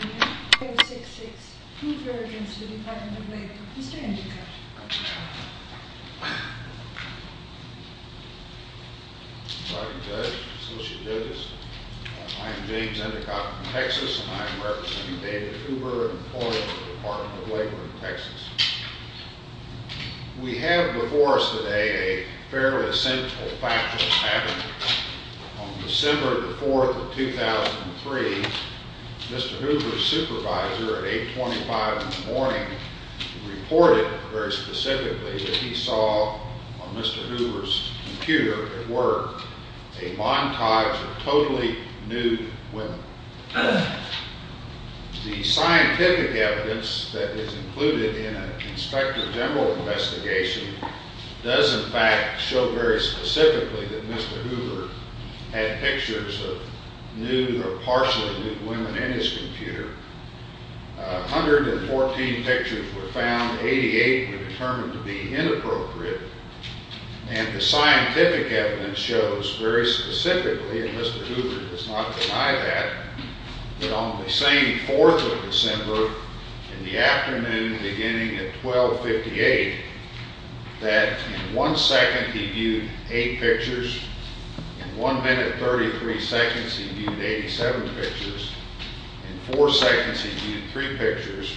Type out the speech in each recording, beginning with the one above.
I am James Endicott from Texas, and I am representing David Huber, an employee of the Department of Labor in Texas. We have before us today a fairly essential fact that is happening. On December the 4th of 2003, Mr. Huber's supervisor at 8.25 in the morning reported very specifically that he saw on Mr. Huber's computer at work a montage of totally nude women. The scientific evidence that is included in an Inspector General investigation does in fact show very specifically that on the same 4th of December in the afternoon beginning at 12.58 that in one second he viewed 8 pictures, in 1 minute 33 seconds he viewed 87 pictures, in 4 seconds he viewed 3 pictures,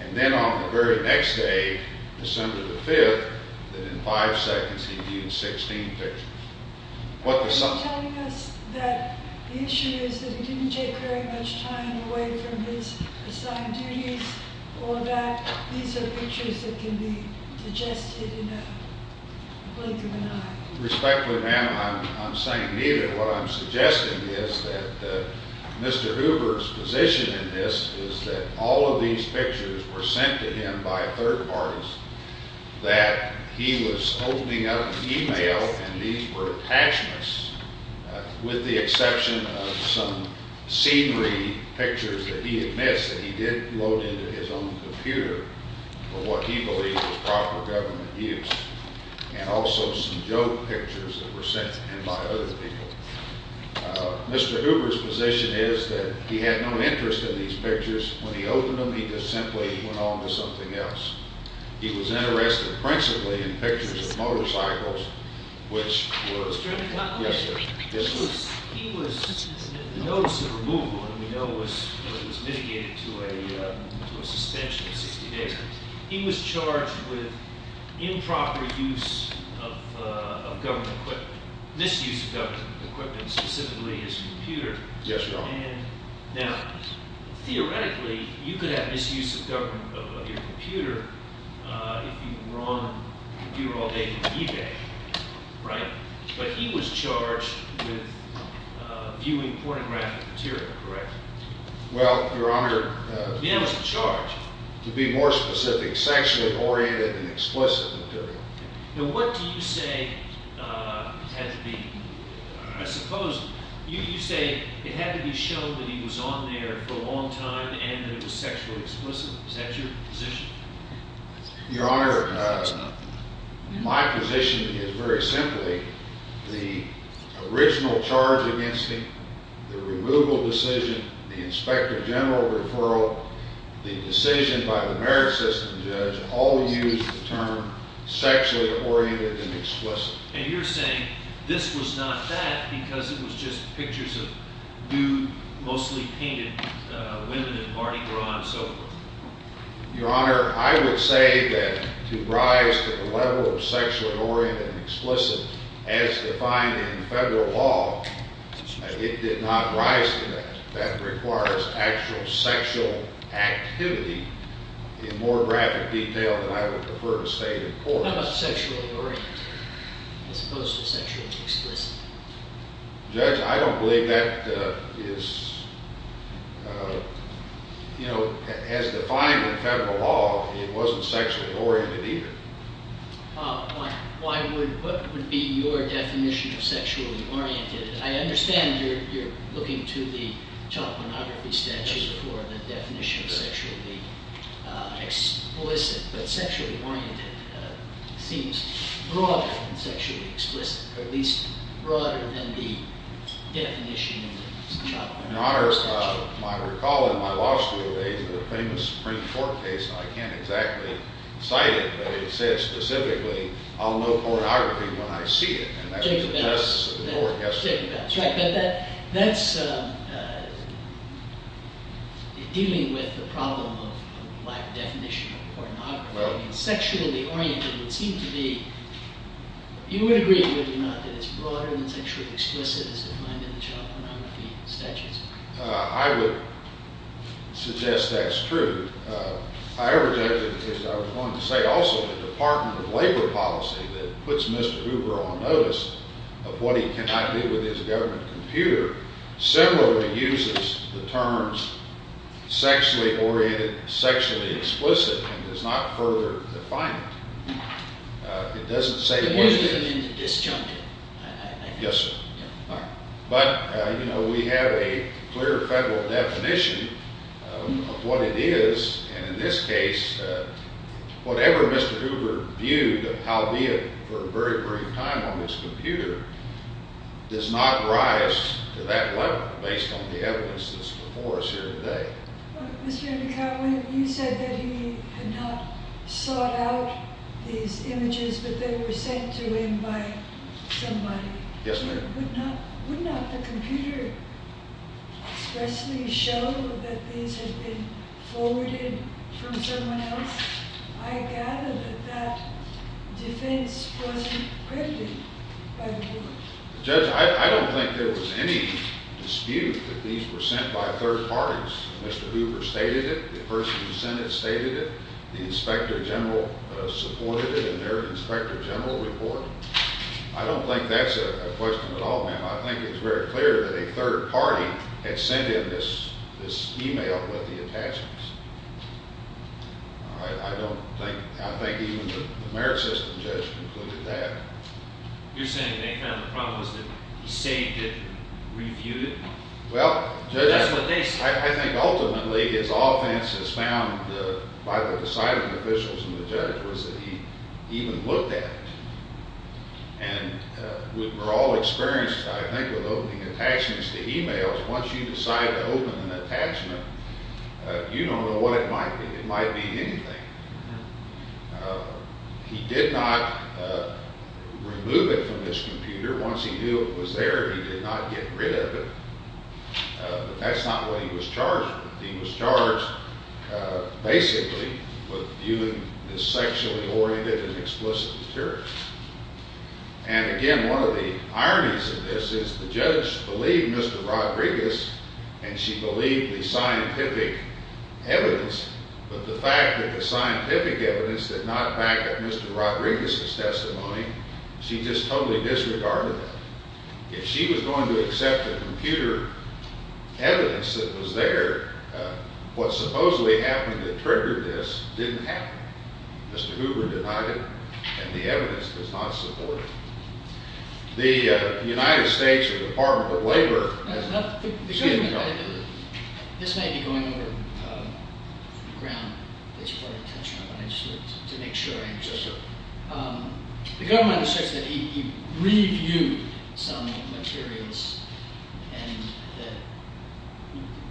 and then on the very next day, December the 5th, that in 5 seconds he viewed 16 pictures. Are you telling us that the issue is that he didn't take very much time away from his assigned duties or that these are pictures that can be digested in a blink of an eye? Respectfully ma'am, I'm saying neither. What I'm suggesting is that Mr. Huber's position in this is that all of these pictures were sent to him by third parties, that he was opening up email and these were attachments, with the exception of some scenery pictures that he admits that he did load into his own computer for what he believed was proper government use, and also some joke pictures that were sent in by other people. Mr. Huber's position is that he had no interest in these pictures. When he opened them, he just simply went on to something else. He was interested principally in pictures of motorcycles, which were... Mr. McConnell? Yes, sir. He was... the notice of removal that we know was mitigated to a suspension of 60 days. He was charged with improper use of government equipment, misuse of government equipment, specifically his computer. Yes, Your Honor. Now, theoretically, you could have misuse of government equipment on your computer if you were on a computer all day on eBay, right? But he was charged with viewing pornographic material, correct? Well, Your Honor, he was charged to be more specific, sexually-oriented and explicit material. Now, what do you say had to be... I suppose you say it had to be shown that he was on there for a long time and that it was sexually explicit. Is that your position? Your Honor, my position is very simply, the original charge against him, the removal decision, the Inspector General referral, the decision by the Merit System judge, all used the term sexually-oriented and explicit. And you're saying this was not that because it was just pictures of nude, mostly painted women in Mardi Gras and so forth? Your Honor, I would say that to rise to the level of sexually-oriented and explicit as defined in federal law, it did not rise to that. That requires actual sexual activity in more graphic detail than I would prefer to state in court. How about sexually-oriented as opposed to sexually explicit? Judge, I don't believe that is... you know, as defined in federal law, it wasn't sexually-oriented either. Why would... what would be your definition of sexually-oriented? I understand you're looking to the telepornography statute for the definition of sexually explicit. But sexually-oriented seems broader than sexually explicit, or at least broader than the definition of sexually-oriented. Your Honor, if I recall in my law school days, the famous Supreme Court case, I can't exactly cite it, but it said specifically, I'll know pornography when I see it. That's dealing with the problem of lack of definition of pornography. Sexually-oriented would seem to be... you would agree, would you not, that it's broader than sexually explicit as defined in the telepornography statute? I would suggest that's true. However, Judge, as I was going to say also, the Department of Labor policy that puts Mr. Hoover on notice of what he cannot do with his government computer similarly uses the terms sexually-oriented, sexually explicit, and does not further define it. It doesn't say... You mean to disjunct it? Yes, sir. But, you know, we have a clear federal definition of what it is. And in this case, whatever Mr. Hoover viewed, albeit for a very brief time on his computer, does not rise to that level based on the evidence that's before us here today. Mr. McCowen, you said that he had not sought out these images, but they were sent to him by somebody. Yes, ma'am. However, would not the computer expressly show that these had been forwarded from someone else? I gather that that defense wasn't credited by Hoover. Judge, I don't think there was any dispute that these were sent by third parties. Mr. Hoover stated it. The person who sent it stated it. The inspector general supported it in their inspector general report. I don't think that's a question at all, ma'am. I think it's very clear that a third party had sent in this e-mail with the attachments. I don't think, I think even the merit system judge concluded that. You're saying they found the problem was that he saved it and reviewed it? Well, Judge, I think ultimately his offense is found by the deciding officials and the judge was that he even looked at it. And we're all experienced, I think, with opening attachments to e-mails. Once you decide to open an attachment, you don't know what it might be. It might be anything. He did not remove it from his computer. Once he knew it was there, he did not get rid of it. But that's not what he was charged with. He was charged basically with viewing this sexually oriented and explicit material. And again, one of the ironies of this is the judge believed Mr. Rodriguez and she believed the scientific evidence. But the fact that the scientific evidence did not back up Mr. Rodriguez's testimony, she just totally disregarded that. If she was going to accept the computer evidence that was there, what supposedly happened that triggered this didn't happen. Mr. Hoover denied it. And the evidence does not support it. The United States Department of Labor has not given comment. This may be going over the ground. I just wanted to make sure. Yes, sir. The government has said that he reviewed some materials and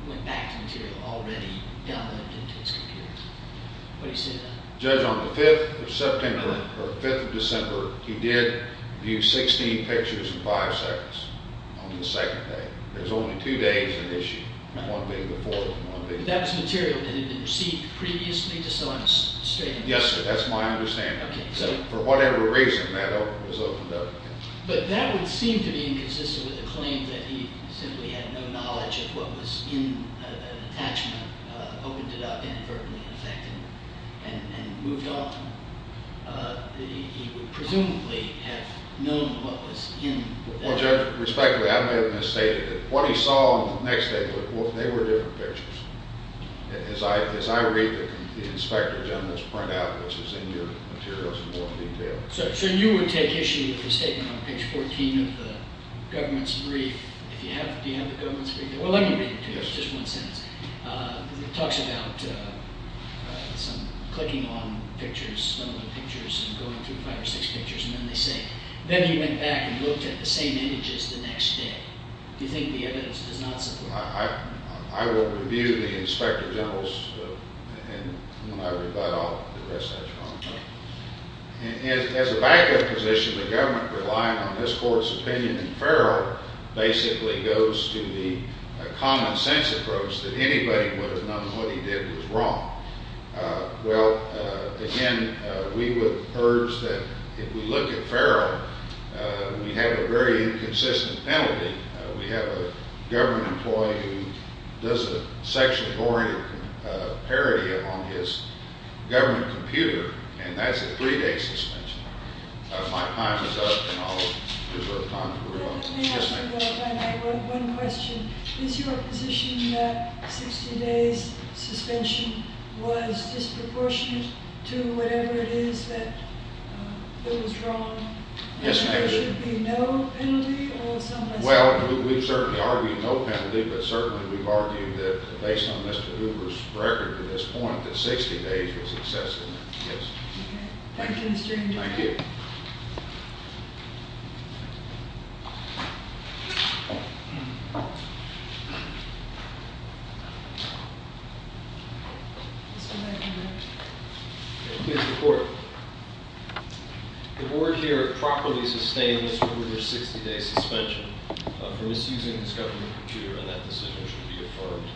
went back to material already downloaded into his computer. What do you say to that? Judge, on the 5th of September, or 5th of December, he did view 16 pictures in five seconds on the second day. There's only two days in issue. One being the 4th and one being the 5th. That was material that had been received previously, just so I'm straight. Yes, sir. That's my understanding. For whatever reason, that was opened up. But that would seem to be inconsistent with the claim that he simply had no knowledge of what was in an attachment, opened it up inadvertently, in effect, and moved on. He would presumably have known what was in that. Well, Judge, respectfully, I may have misstated it. What he saw on the next day, they were different pictures. As I read the inspector general's printout, which is in your materials in more detail. Sir, you would take issue with the statement on page 14 of the government's brief. Do you have the government's brief? Well, let me read it to you. It's just one sentence. It talks about some clicking on some of the pictures and going through five or six pictures, and then they say, then he went back and looked at the same images the next day. Do you think the evidence does not support that? I will review the inspector general's, and when I read that, I'll address that. As a backup position, the government relying on this court's opinion in Farrell basically goes to the common sense approach that anybody would have known what he did was wrong. Well, again, we would urge that if we look at Farrell, we have a very inconsistent penalty. We have a government employee who does a section-oriented parody on his government computer, and that's a three-day suspension. My time is up, and I'll reserve time for rebuttal. Let me ask you, though, if I may, one question. Is your position that 60 days suspension was disproportionate to whatever it is that was wrong? Yes, ma'am. So there should be no penalty? Well, we've certainly argued no penalty, but certainly we've argued that, based on Mr. Hoover's record to this point, that 60 days was excessive, yes. Thank you, Mr. Ingram. Thank you. Mr. Court. The board here properly sustains Mr. Hoover's 60-day suspension for misusing his government computer, and that decision should be affirmed.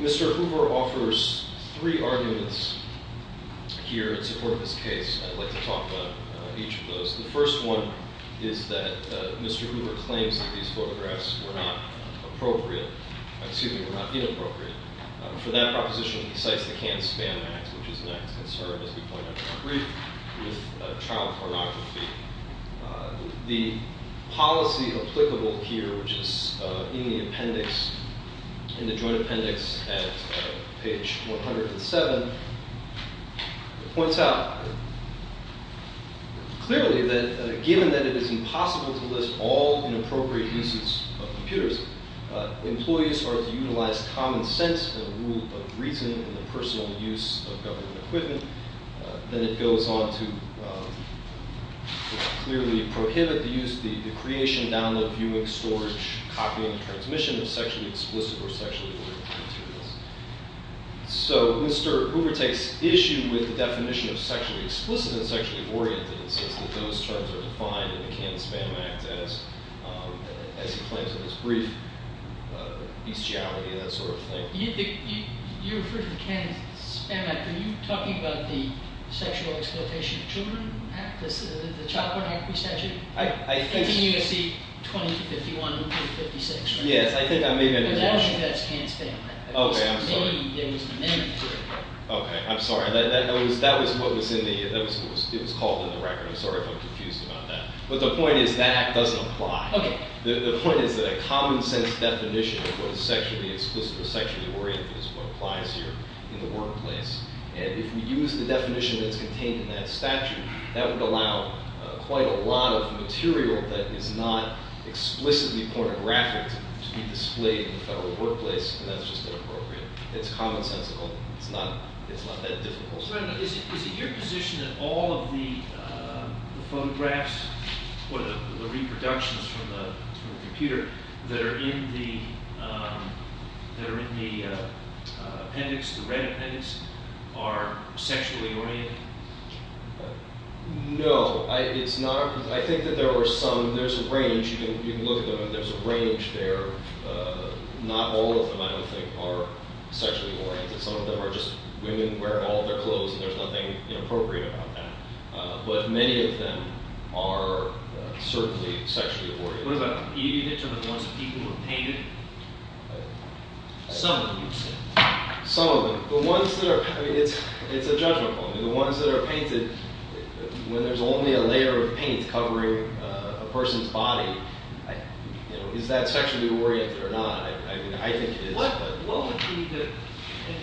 Mr. Hoover offers three arguments here in support of this case. I'd like to talk about each of those. The first one is that Mr. Hoover claims that these photographs were not inappropriate. For that proposition, he cites the Can-Span Act, which is an act of concern, as we pointed out in our brief, with child pornography. The policy applicable here, which is in the appendix, in the joint appendix at page 107, points out clearly that, given that it is impossible to list all inappropriate uses of computers, employees are to utilize common sense and rule of reason in the personal use of government equipment. Then it goes on to clearly prohibit the use, the creation, download, viewing, storage, copying, and transmission of sexually explicit or sexually oriented materials. So Mr. Hoover takes issue with the definition of sexually explicit and sexually oriented in the sense that those terms are defined in the Can-Span Act as he claims in his brief, bestiality and that sort of thing. You referred to the Can-Span Act. Are you talking about the Sexual Exploitation of Children Act, the child pornography statute? I think so. It's in U.S.C. 2051-56, right? Yes, I think I made that objection. But actually, that's Can-Span Act. OK, I'm sorry. It was in the amendment to it. OK, I'm sorry. It was called in the record. I'm sorry if I'm confused about that. But the point is that act doesn't apply. The point is that a common sense definition of what is sexually explicit or sexually oriented is what applies here in the workplace. And if we use the definition that's contained in that statute, that would allow quite a lot of material that is not explicitly pornographic to be displayed in the federal workplace. And that's just inappropriate. It's common sensical. It's not that difficult. Is it your position that all of the photographs or the reproductions from the computer that are in the appendix, the red appendix, are sexually oriented? No, it's not. I think that there were some. There's a range. You can look at them, and there's a range there. Not all of them, I would think, are sexually oriented. Some of them are just women wearing all of their clothes, and there's nothing inappropriate about that. But many of them are certainly sexually oriented. What about the ones that people have painted? Some of them. Some of them. The ones that are painted. It's a judgment point. The ones that are painted, when there's only a layer of paint covering a person's body, is that sexually oriented or not? I think it is. Well,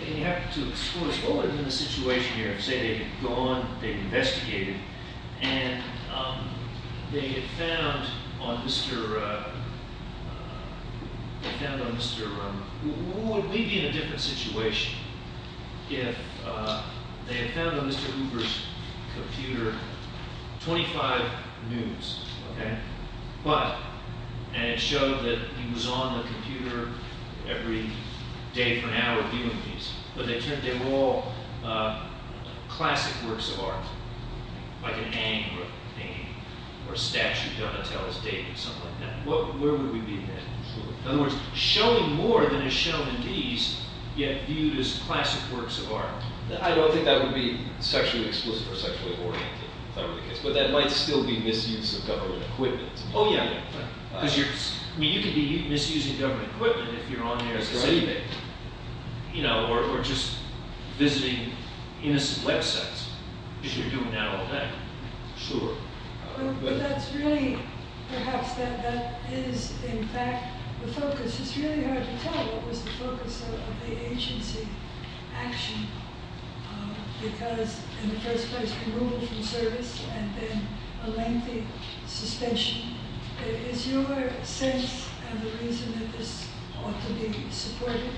you have to explore. What would have been the situation here if, say, they had gone, they had investigated, and they had found on Mr. Would we be in a different situation if they had found on Mr. Hoover's computer 25 nudes, okay? But, and it showed that he was on the computer every day for an hour viewing these. But they turned, they were all classic works of art. Like an Aang or a statue done to tell his date or something like that. Where would we be then? In other words, showing more than is shown in these, yet viewed as classic works of art. I don't think that would be sexually explicit or sexually oriented, if that were the case. But that might still be misuse of government equipment. Oh, yeah. I mean, you could be misusing government equipment if you're on there as a citizen. You know, or just visiting innocent websites. Because you're doing that all day. Sure. But that's really, perhaps that is, in fact, the focus. It's really hard to tell what was the focus of the agency action. Because, in the first place, removal from service and then a lengthy suspension. Is your sense of the reason that this ought to be supported?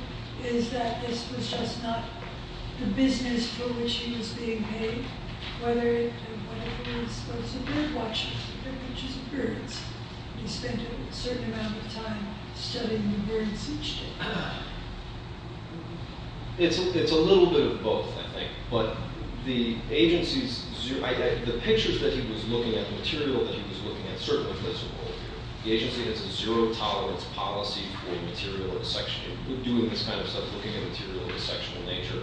Is that this was just not the business for which he was being paid? Whether it was a bird watcher, which is birds. He spent a certain amount of time studying the birds each day. It's a little bit of both, I think. But the agency's, the pictures that he was looking at, the material that he was looking at, certainly fits the role. The agency has a zero tolerance policy for material dissection. Doing this kind of stuff, looking at material of a sexual nature.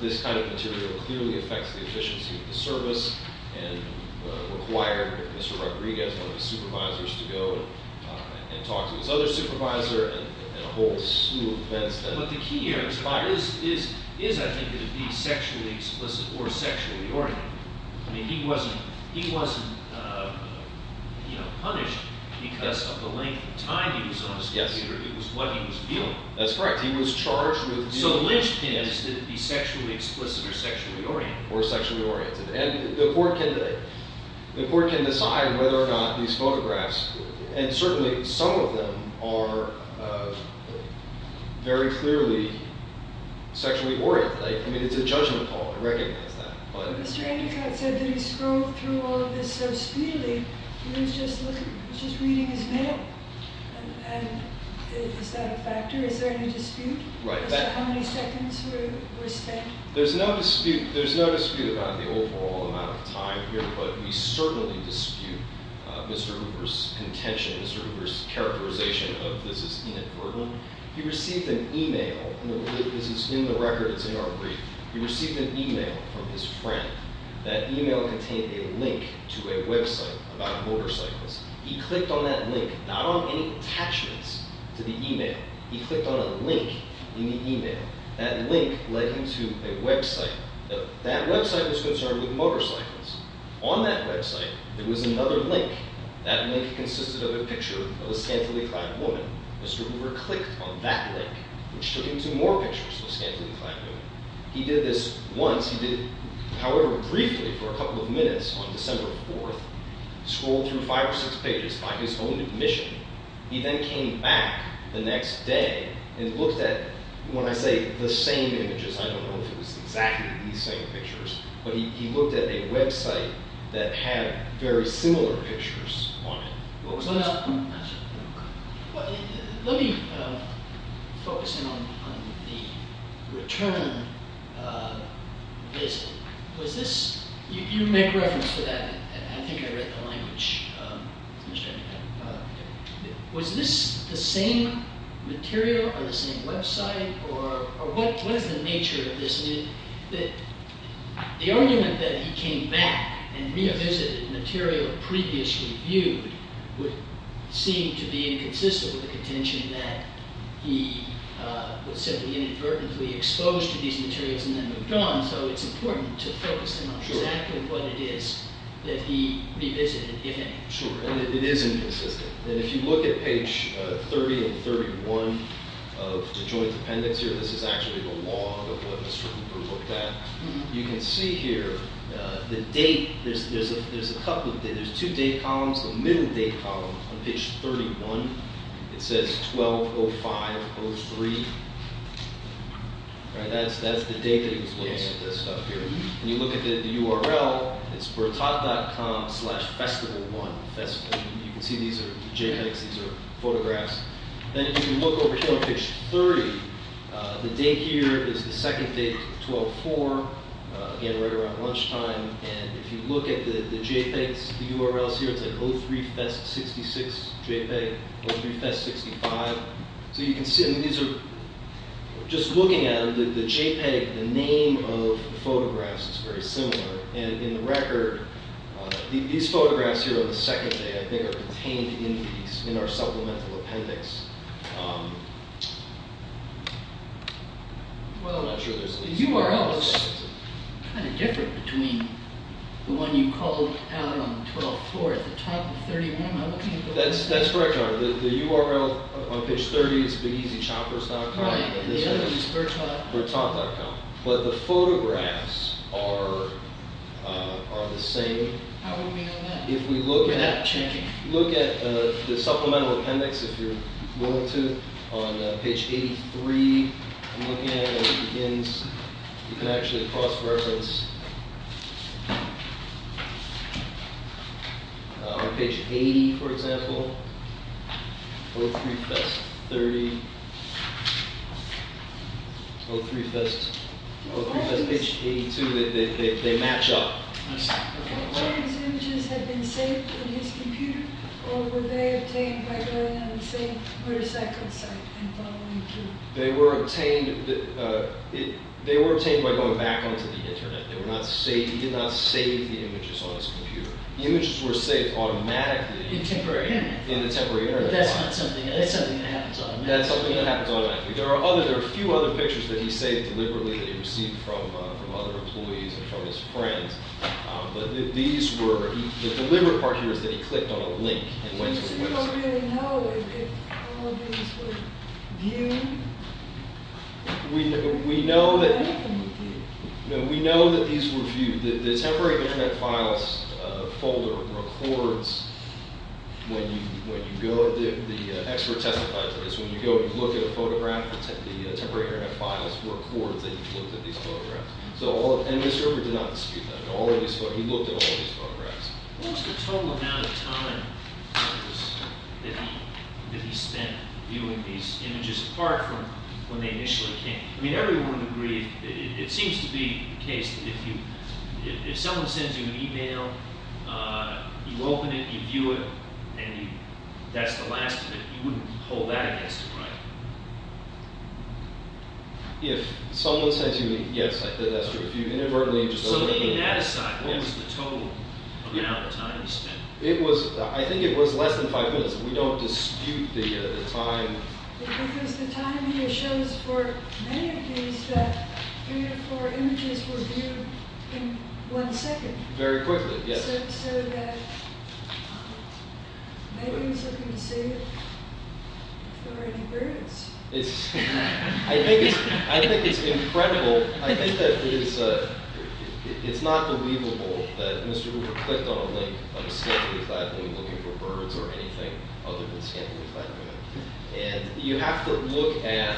This kind of material clearly affects the efficiency of the service. And required Mr. Rodriguez, one of his supervisors, to go and talk to his other supervisor. But the key here is, I think, that it be sexually explicit or sexually oriented. I mean, he wasn't punished because of the length of time he was on his computer. It was what he was viewing. That's correct. He was charged with viewing. So the lynchpin is that it be sexually explicit or sexually oriented. Or sexually oriented. And the court can decide whether or not these photographs, and certainly some of them, are very clearly sexually oriented. I mean, it's a judgment call. I recognize that. But Mr. Endicott said that he scrolled through all of this so speedily. He was just reading his mail. And is that a factor? Is there any dispute? Right. As to how many seconds were spent? There's no dispute about the overall amount of time here. But we certainly dispute Mr. Hoover's contention, Mr. Hoover's characterization of this as inadvertent. He received an email. This is in the record. It's in our brief. He received an email from his friend. That email contained a link to a website about motorcycles. He clicked on that link, not on any attachments to the email. He clicked on a link in the email. That link led him to a website. That website was concerned with motorcycles. On that website, there was another link. That link consisted of a picture of a scantily clad woman. Mr. Hoover clicked on that link, which took him to more pictures of a scantily clad woman. He did this once. He did it, however briefly, for a couple of minutes on December 4th. He scrolled through five or six pages by his own admission. He then came back the next day and looked at, when I say the same images, I don't know if it was exactly the same pictures, but he looked at a website that had very similar pictures on it. Let me focus in on the return visit. You make reference to that. I think I read the language. Was this the same material on the same website? What is the nature of this? The argument that he came back and revisited material previously viewed would seem to be inconsistent with the contention that he was simply inadvertently exposed to these materials and then moved on, so it's important to focus in on exactly what it is that he revisited, if any. It is inconsistent. If you look at page 30 and 31 of the joint appendix here, this is actually the log of what Mr. Hoover looked at. You can see here the date. There's two date columns, the middle date column on page 31. It says 12-05-03. That's the date that he was looking at this stuff here. When you look at the URL, it's bertot.com slash festival one. You can see these are JPEGs, these are photographs. Then if you look over here on page 30, the date here is the second date, 12-04, again right around lunchtime. If you look at the JPEGs, the URLs here, it's 03Fest66JPEG, 03Fest65. Just looking at them, the JPEG, the name of the photographs is very similar. In the record, these photographs here on the second day, I think, are contained in our supplemental appendix. Well, I'm not sure. The URL is kind of different between the one you called out on 12-04 at the top of 31. That's correct, John. The URL on page 30 is bigeasychoppers.com. Right. The other is bertot.com. Bertot.com. But the photographs are the same. How would we know that? You're not changing. If we look at the supplemental appendix, if you're willing to, on page 83, I'm looking at it as it begins. You can actually cross-reference. On page 80, for example, 03Fest30, 03Fest82, they match up. Did James' images have been saved on his computer, or were they obtained by going on the same motorcycle site and following through? They were obtained by going back onto the Internet. He did not save the images on his computer. The images were saved automatically in the temporary Internet. That's something that happens automatically. That's something that happens automatically. There are a few other pictures that he saved deliberately that he received from other employees and from his friends. But the deliberate part here is that he clicked on a link and went to the website. So you don't really know if all of these were viewed? We know that these were viewed. The temporary Internet files folder records when you go. The expert testified to this. When you go and look at a photograph, the temporary Internet files record that you've looked at these photographs. And Mr. Herbert did not dispute that. He looked at all of these photographs. What was the total amount of time that he spent viewing these images, apart from when they initially came? I mean, everyone would agree. It seems to be the case that if someone sends you an email, you open it, you view it, and that's the last of it, you wouldn't hold that against him, right? If someone says to you, yes, I think that's true. If you inadvertently just open it. So taking that aside, what was the total amount of time he spent? I think it was less than five minutes. We don't dispute the time. Because the time here shows for many of these that three or four images were viewed in one second. Very quickly, yes. So maybe he was looking to save it for an experience. I think it's incredible. I think that it's not believable that Mr. Hoover clicked on a link on a scantily clad room looking for birds or anything other than a scantily clad room. And you have to look at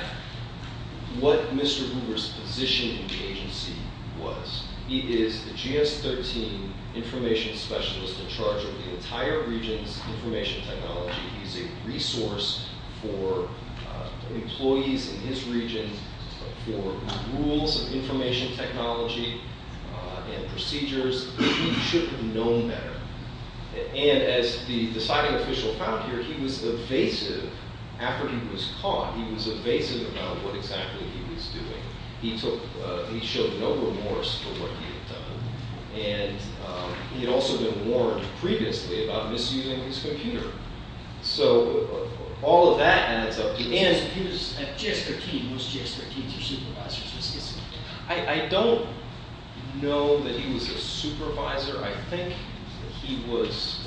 what Mr. Hoover's position in the agency was. He is the GS-13 information specialist in charge of the entire region's information technology. He's a resource for employees in his region for rules of information technology and procedures. He should have known better. And as the deciding official found here, he was evasive after he was caught. He was evasive about what exactly he was doing. He showed no remorse for what he had done. And he had also been warned previously about misusing his computer. So all of that adds up. He was a GS-13. Most GS-13s are supervisors. I don't know that he was a supervisor. I think he was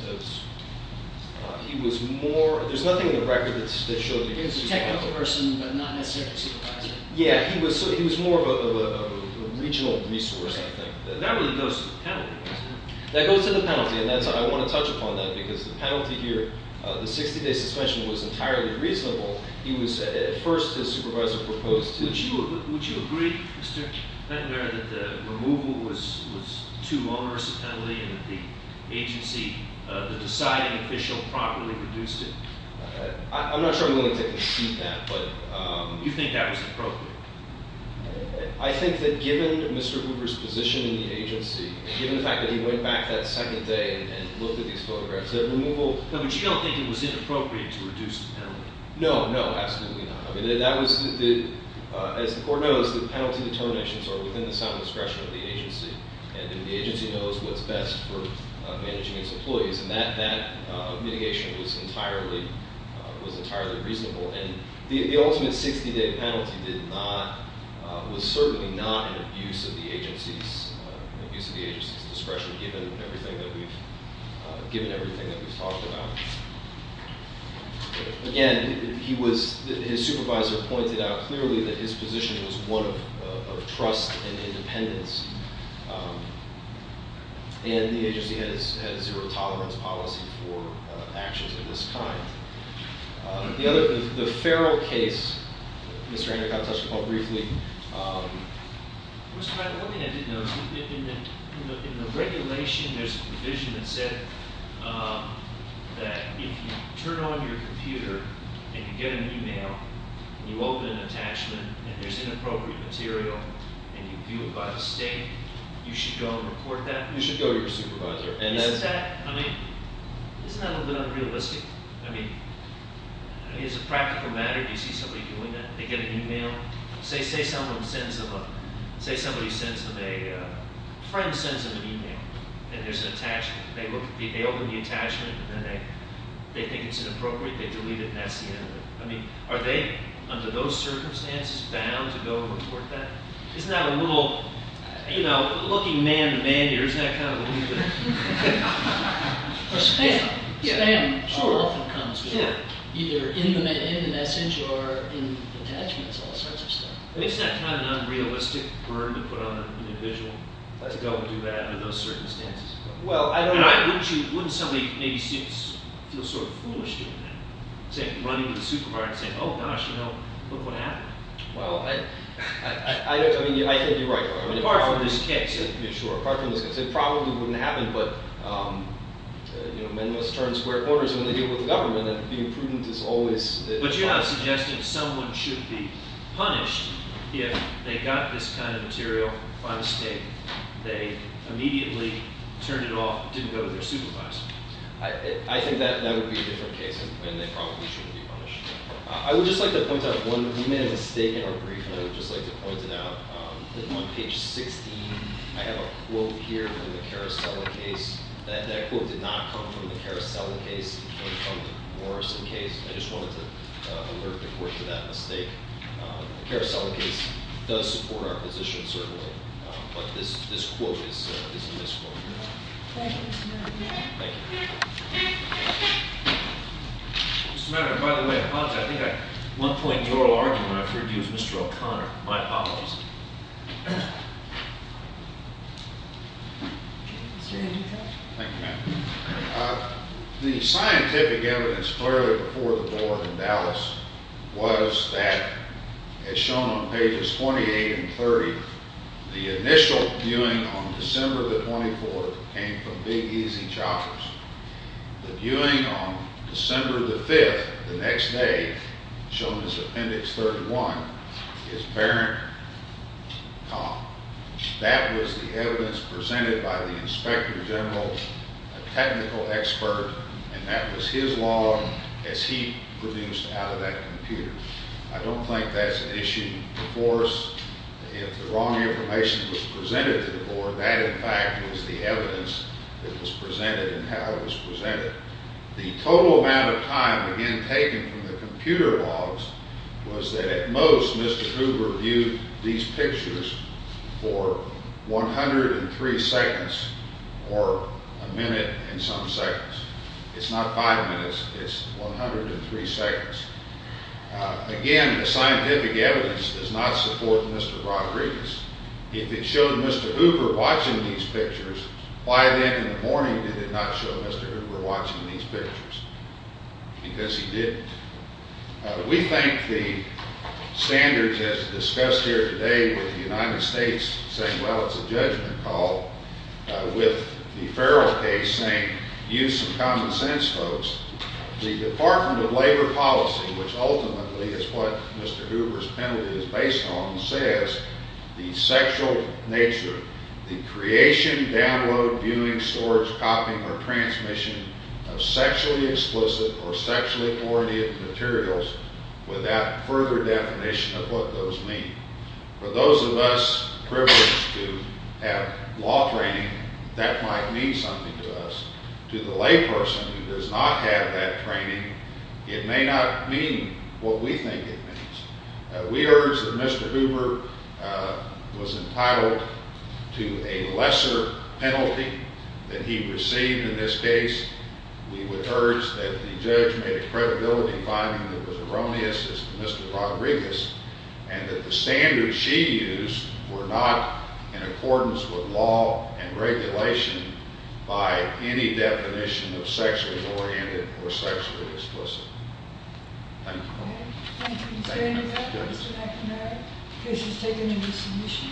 more... There's nothing in the record that shows he was a supervisor. He was a technical person, but not necessarily a supervisor. Yeah, he was more of a regional resource, I think. That really goes to the penalty, doesn't it? That goes to the penalty, and I want to touch upon that, because the penalty here, the 60-day suspension, was entirely reasonable. He was, at first, his supervisor proposed to... Would you agree, Mr. Fentner, that the removal was too onerous a penalty and that the agency, the deciding official, properly reduced it? I'm not sure I'm willing to concede that, but... You think that was appropriate? I think that given Mr. Hooper's position in the agency, given the fact that he went back that second day and looked at these photographs, that removal... No, but you don't think it was inappropriate to reduce the penalty? No, no, absolutely not. I mean, that was the... As the Court knows, the penalty determinations are within the sound discretion of the agency, and the agency knows what's best for managing its employees, and that mitigation was entirely reasonable. And the ultimate 60-day penalty was certainly not an abuse of the agency's discretion, given everything that we've talked about. Again, his supervisor pointed out clearly that his position was one of trust and independence, and the agency had a zero-tolerance policy for actions of this kind. The other... The Farrell case Mr. Andercott touched upon briefly... Mr. Madden, one thing I didn't know is that in the regulation, there's a provision that said that if you turn on your computer and you get an e-mail, and you open an attachment, and there's inappropriate material, and you view it by the state, you should go and report that? You should go to your supervisor. Isn't that a little bit unrealistic? I mean, is it a practical matter? Do you see somebody doing that? They get an e-mail. Say somebody sends them a... A friend sends them an e-mail, and there's an attachment. They open the attachment, and then they think it's inappropriate. They delete it, and that's the end of it. I mean, are they, under those circumstances, bound to go and report that? Isn't that a little... You know, looking man-to-man here, isn't that kind of a little bit... Or spam. Spam sure often comes with that, either in the message or in attachments, all sorts of stuff. Isn't that kind of an unrealistic burden to put on an individual to go and do that under those circumstances? Well, I don't know. Wouldn't somebody maybe feel sort of foolish doing that? Say, running to the supervisor and saying, oh, gosh, you know, look what happened. Well, I think you're right. Apart from this case. Sure. Apart from this case. It probably wouldn't happen, but, you know, men must turn square corners when they deal with the government, and being prudent is always... But you have suggested someone should be punished if they got this kind of material by mistake. They immediately turned it off, didn't go to their supervisor. I think that would be a different case, and they probably shouldn't be punished. I would just like to point out one... I would just like to point it out that on page 16, I have a quote here from the Carousel case. That quote did not come from the Carousel case. It came from the Morrison case. I just wanted to alert the court to that mistake. The Carousel case does support our position, certainly, but this quote is a misquote. Thank you, Mr. Mayor. Thank you. Mr. Mayor, by the way, I apologize. I think I... At one point in your argument, I figured it was Mr. O'Connor. My apologies. Mr. Indica? Thank you, ma'am. The scientific evidence clearly before the board in Dallas was that, as shown on pages 28 and 30, the initial viewing on December the 24th came from Big Easy Choppers. The viewing on December the 5th, the next day, shown as Appendix 31, is Barron. That was the evidence presented by the Inspector General, a technical expert, and that was his law as he produced out of that computer. I don't think that's an issue before us. If the wrong information was presented to the board, that, in fact, was the evidence that was presented and how it was presented. The total amount of time, again, taken from the computer logs was that, at most, Mr. Hoover viewed these pictures for 103 seconds or a minute and some seconds. It's not five minutes. It's 103 seconds. Again, the scientific evidence does not support Mr. Rodriguez. If it showed Mr. Hoover watching these pictures, why then, in the morning, did it not show Mr. Hoover watching these pictures? Because he didn't. We think the standards as discussed here today with the United States saying, well, it's a judgment call, with the Farrell case saying, use some common sense, folks. The Department of Labor policy, which ultimately is what Mr. Hoover's penalty is based on, says the sexual nature, the creation, download, viewing, storage, copying, or transmission of sexually explicit or sexually coordinated materials without further definition of what those mean. For those of us privileged to have law training, that might mean something to us. To the layperson who does not have that training, it may not mean what we think it means. We urge that Mr. Hoover was entitled to a lesser penalty than he received in this case. We would urge that the judge made a credibility finding that was erroneous as to Mr. Rodriguez and that the standards she used were not in accordance with law and regulation by any definition of sexually oriented or sexually explicit. Thank you.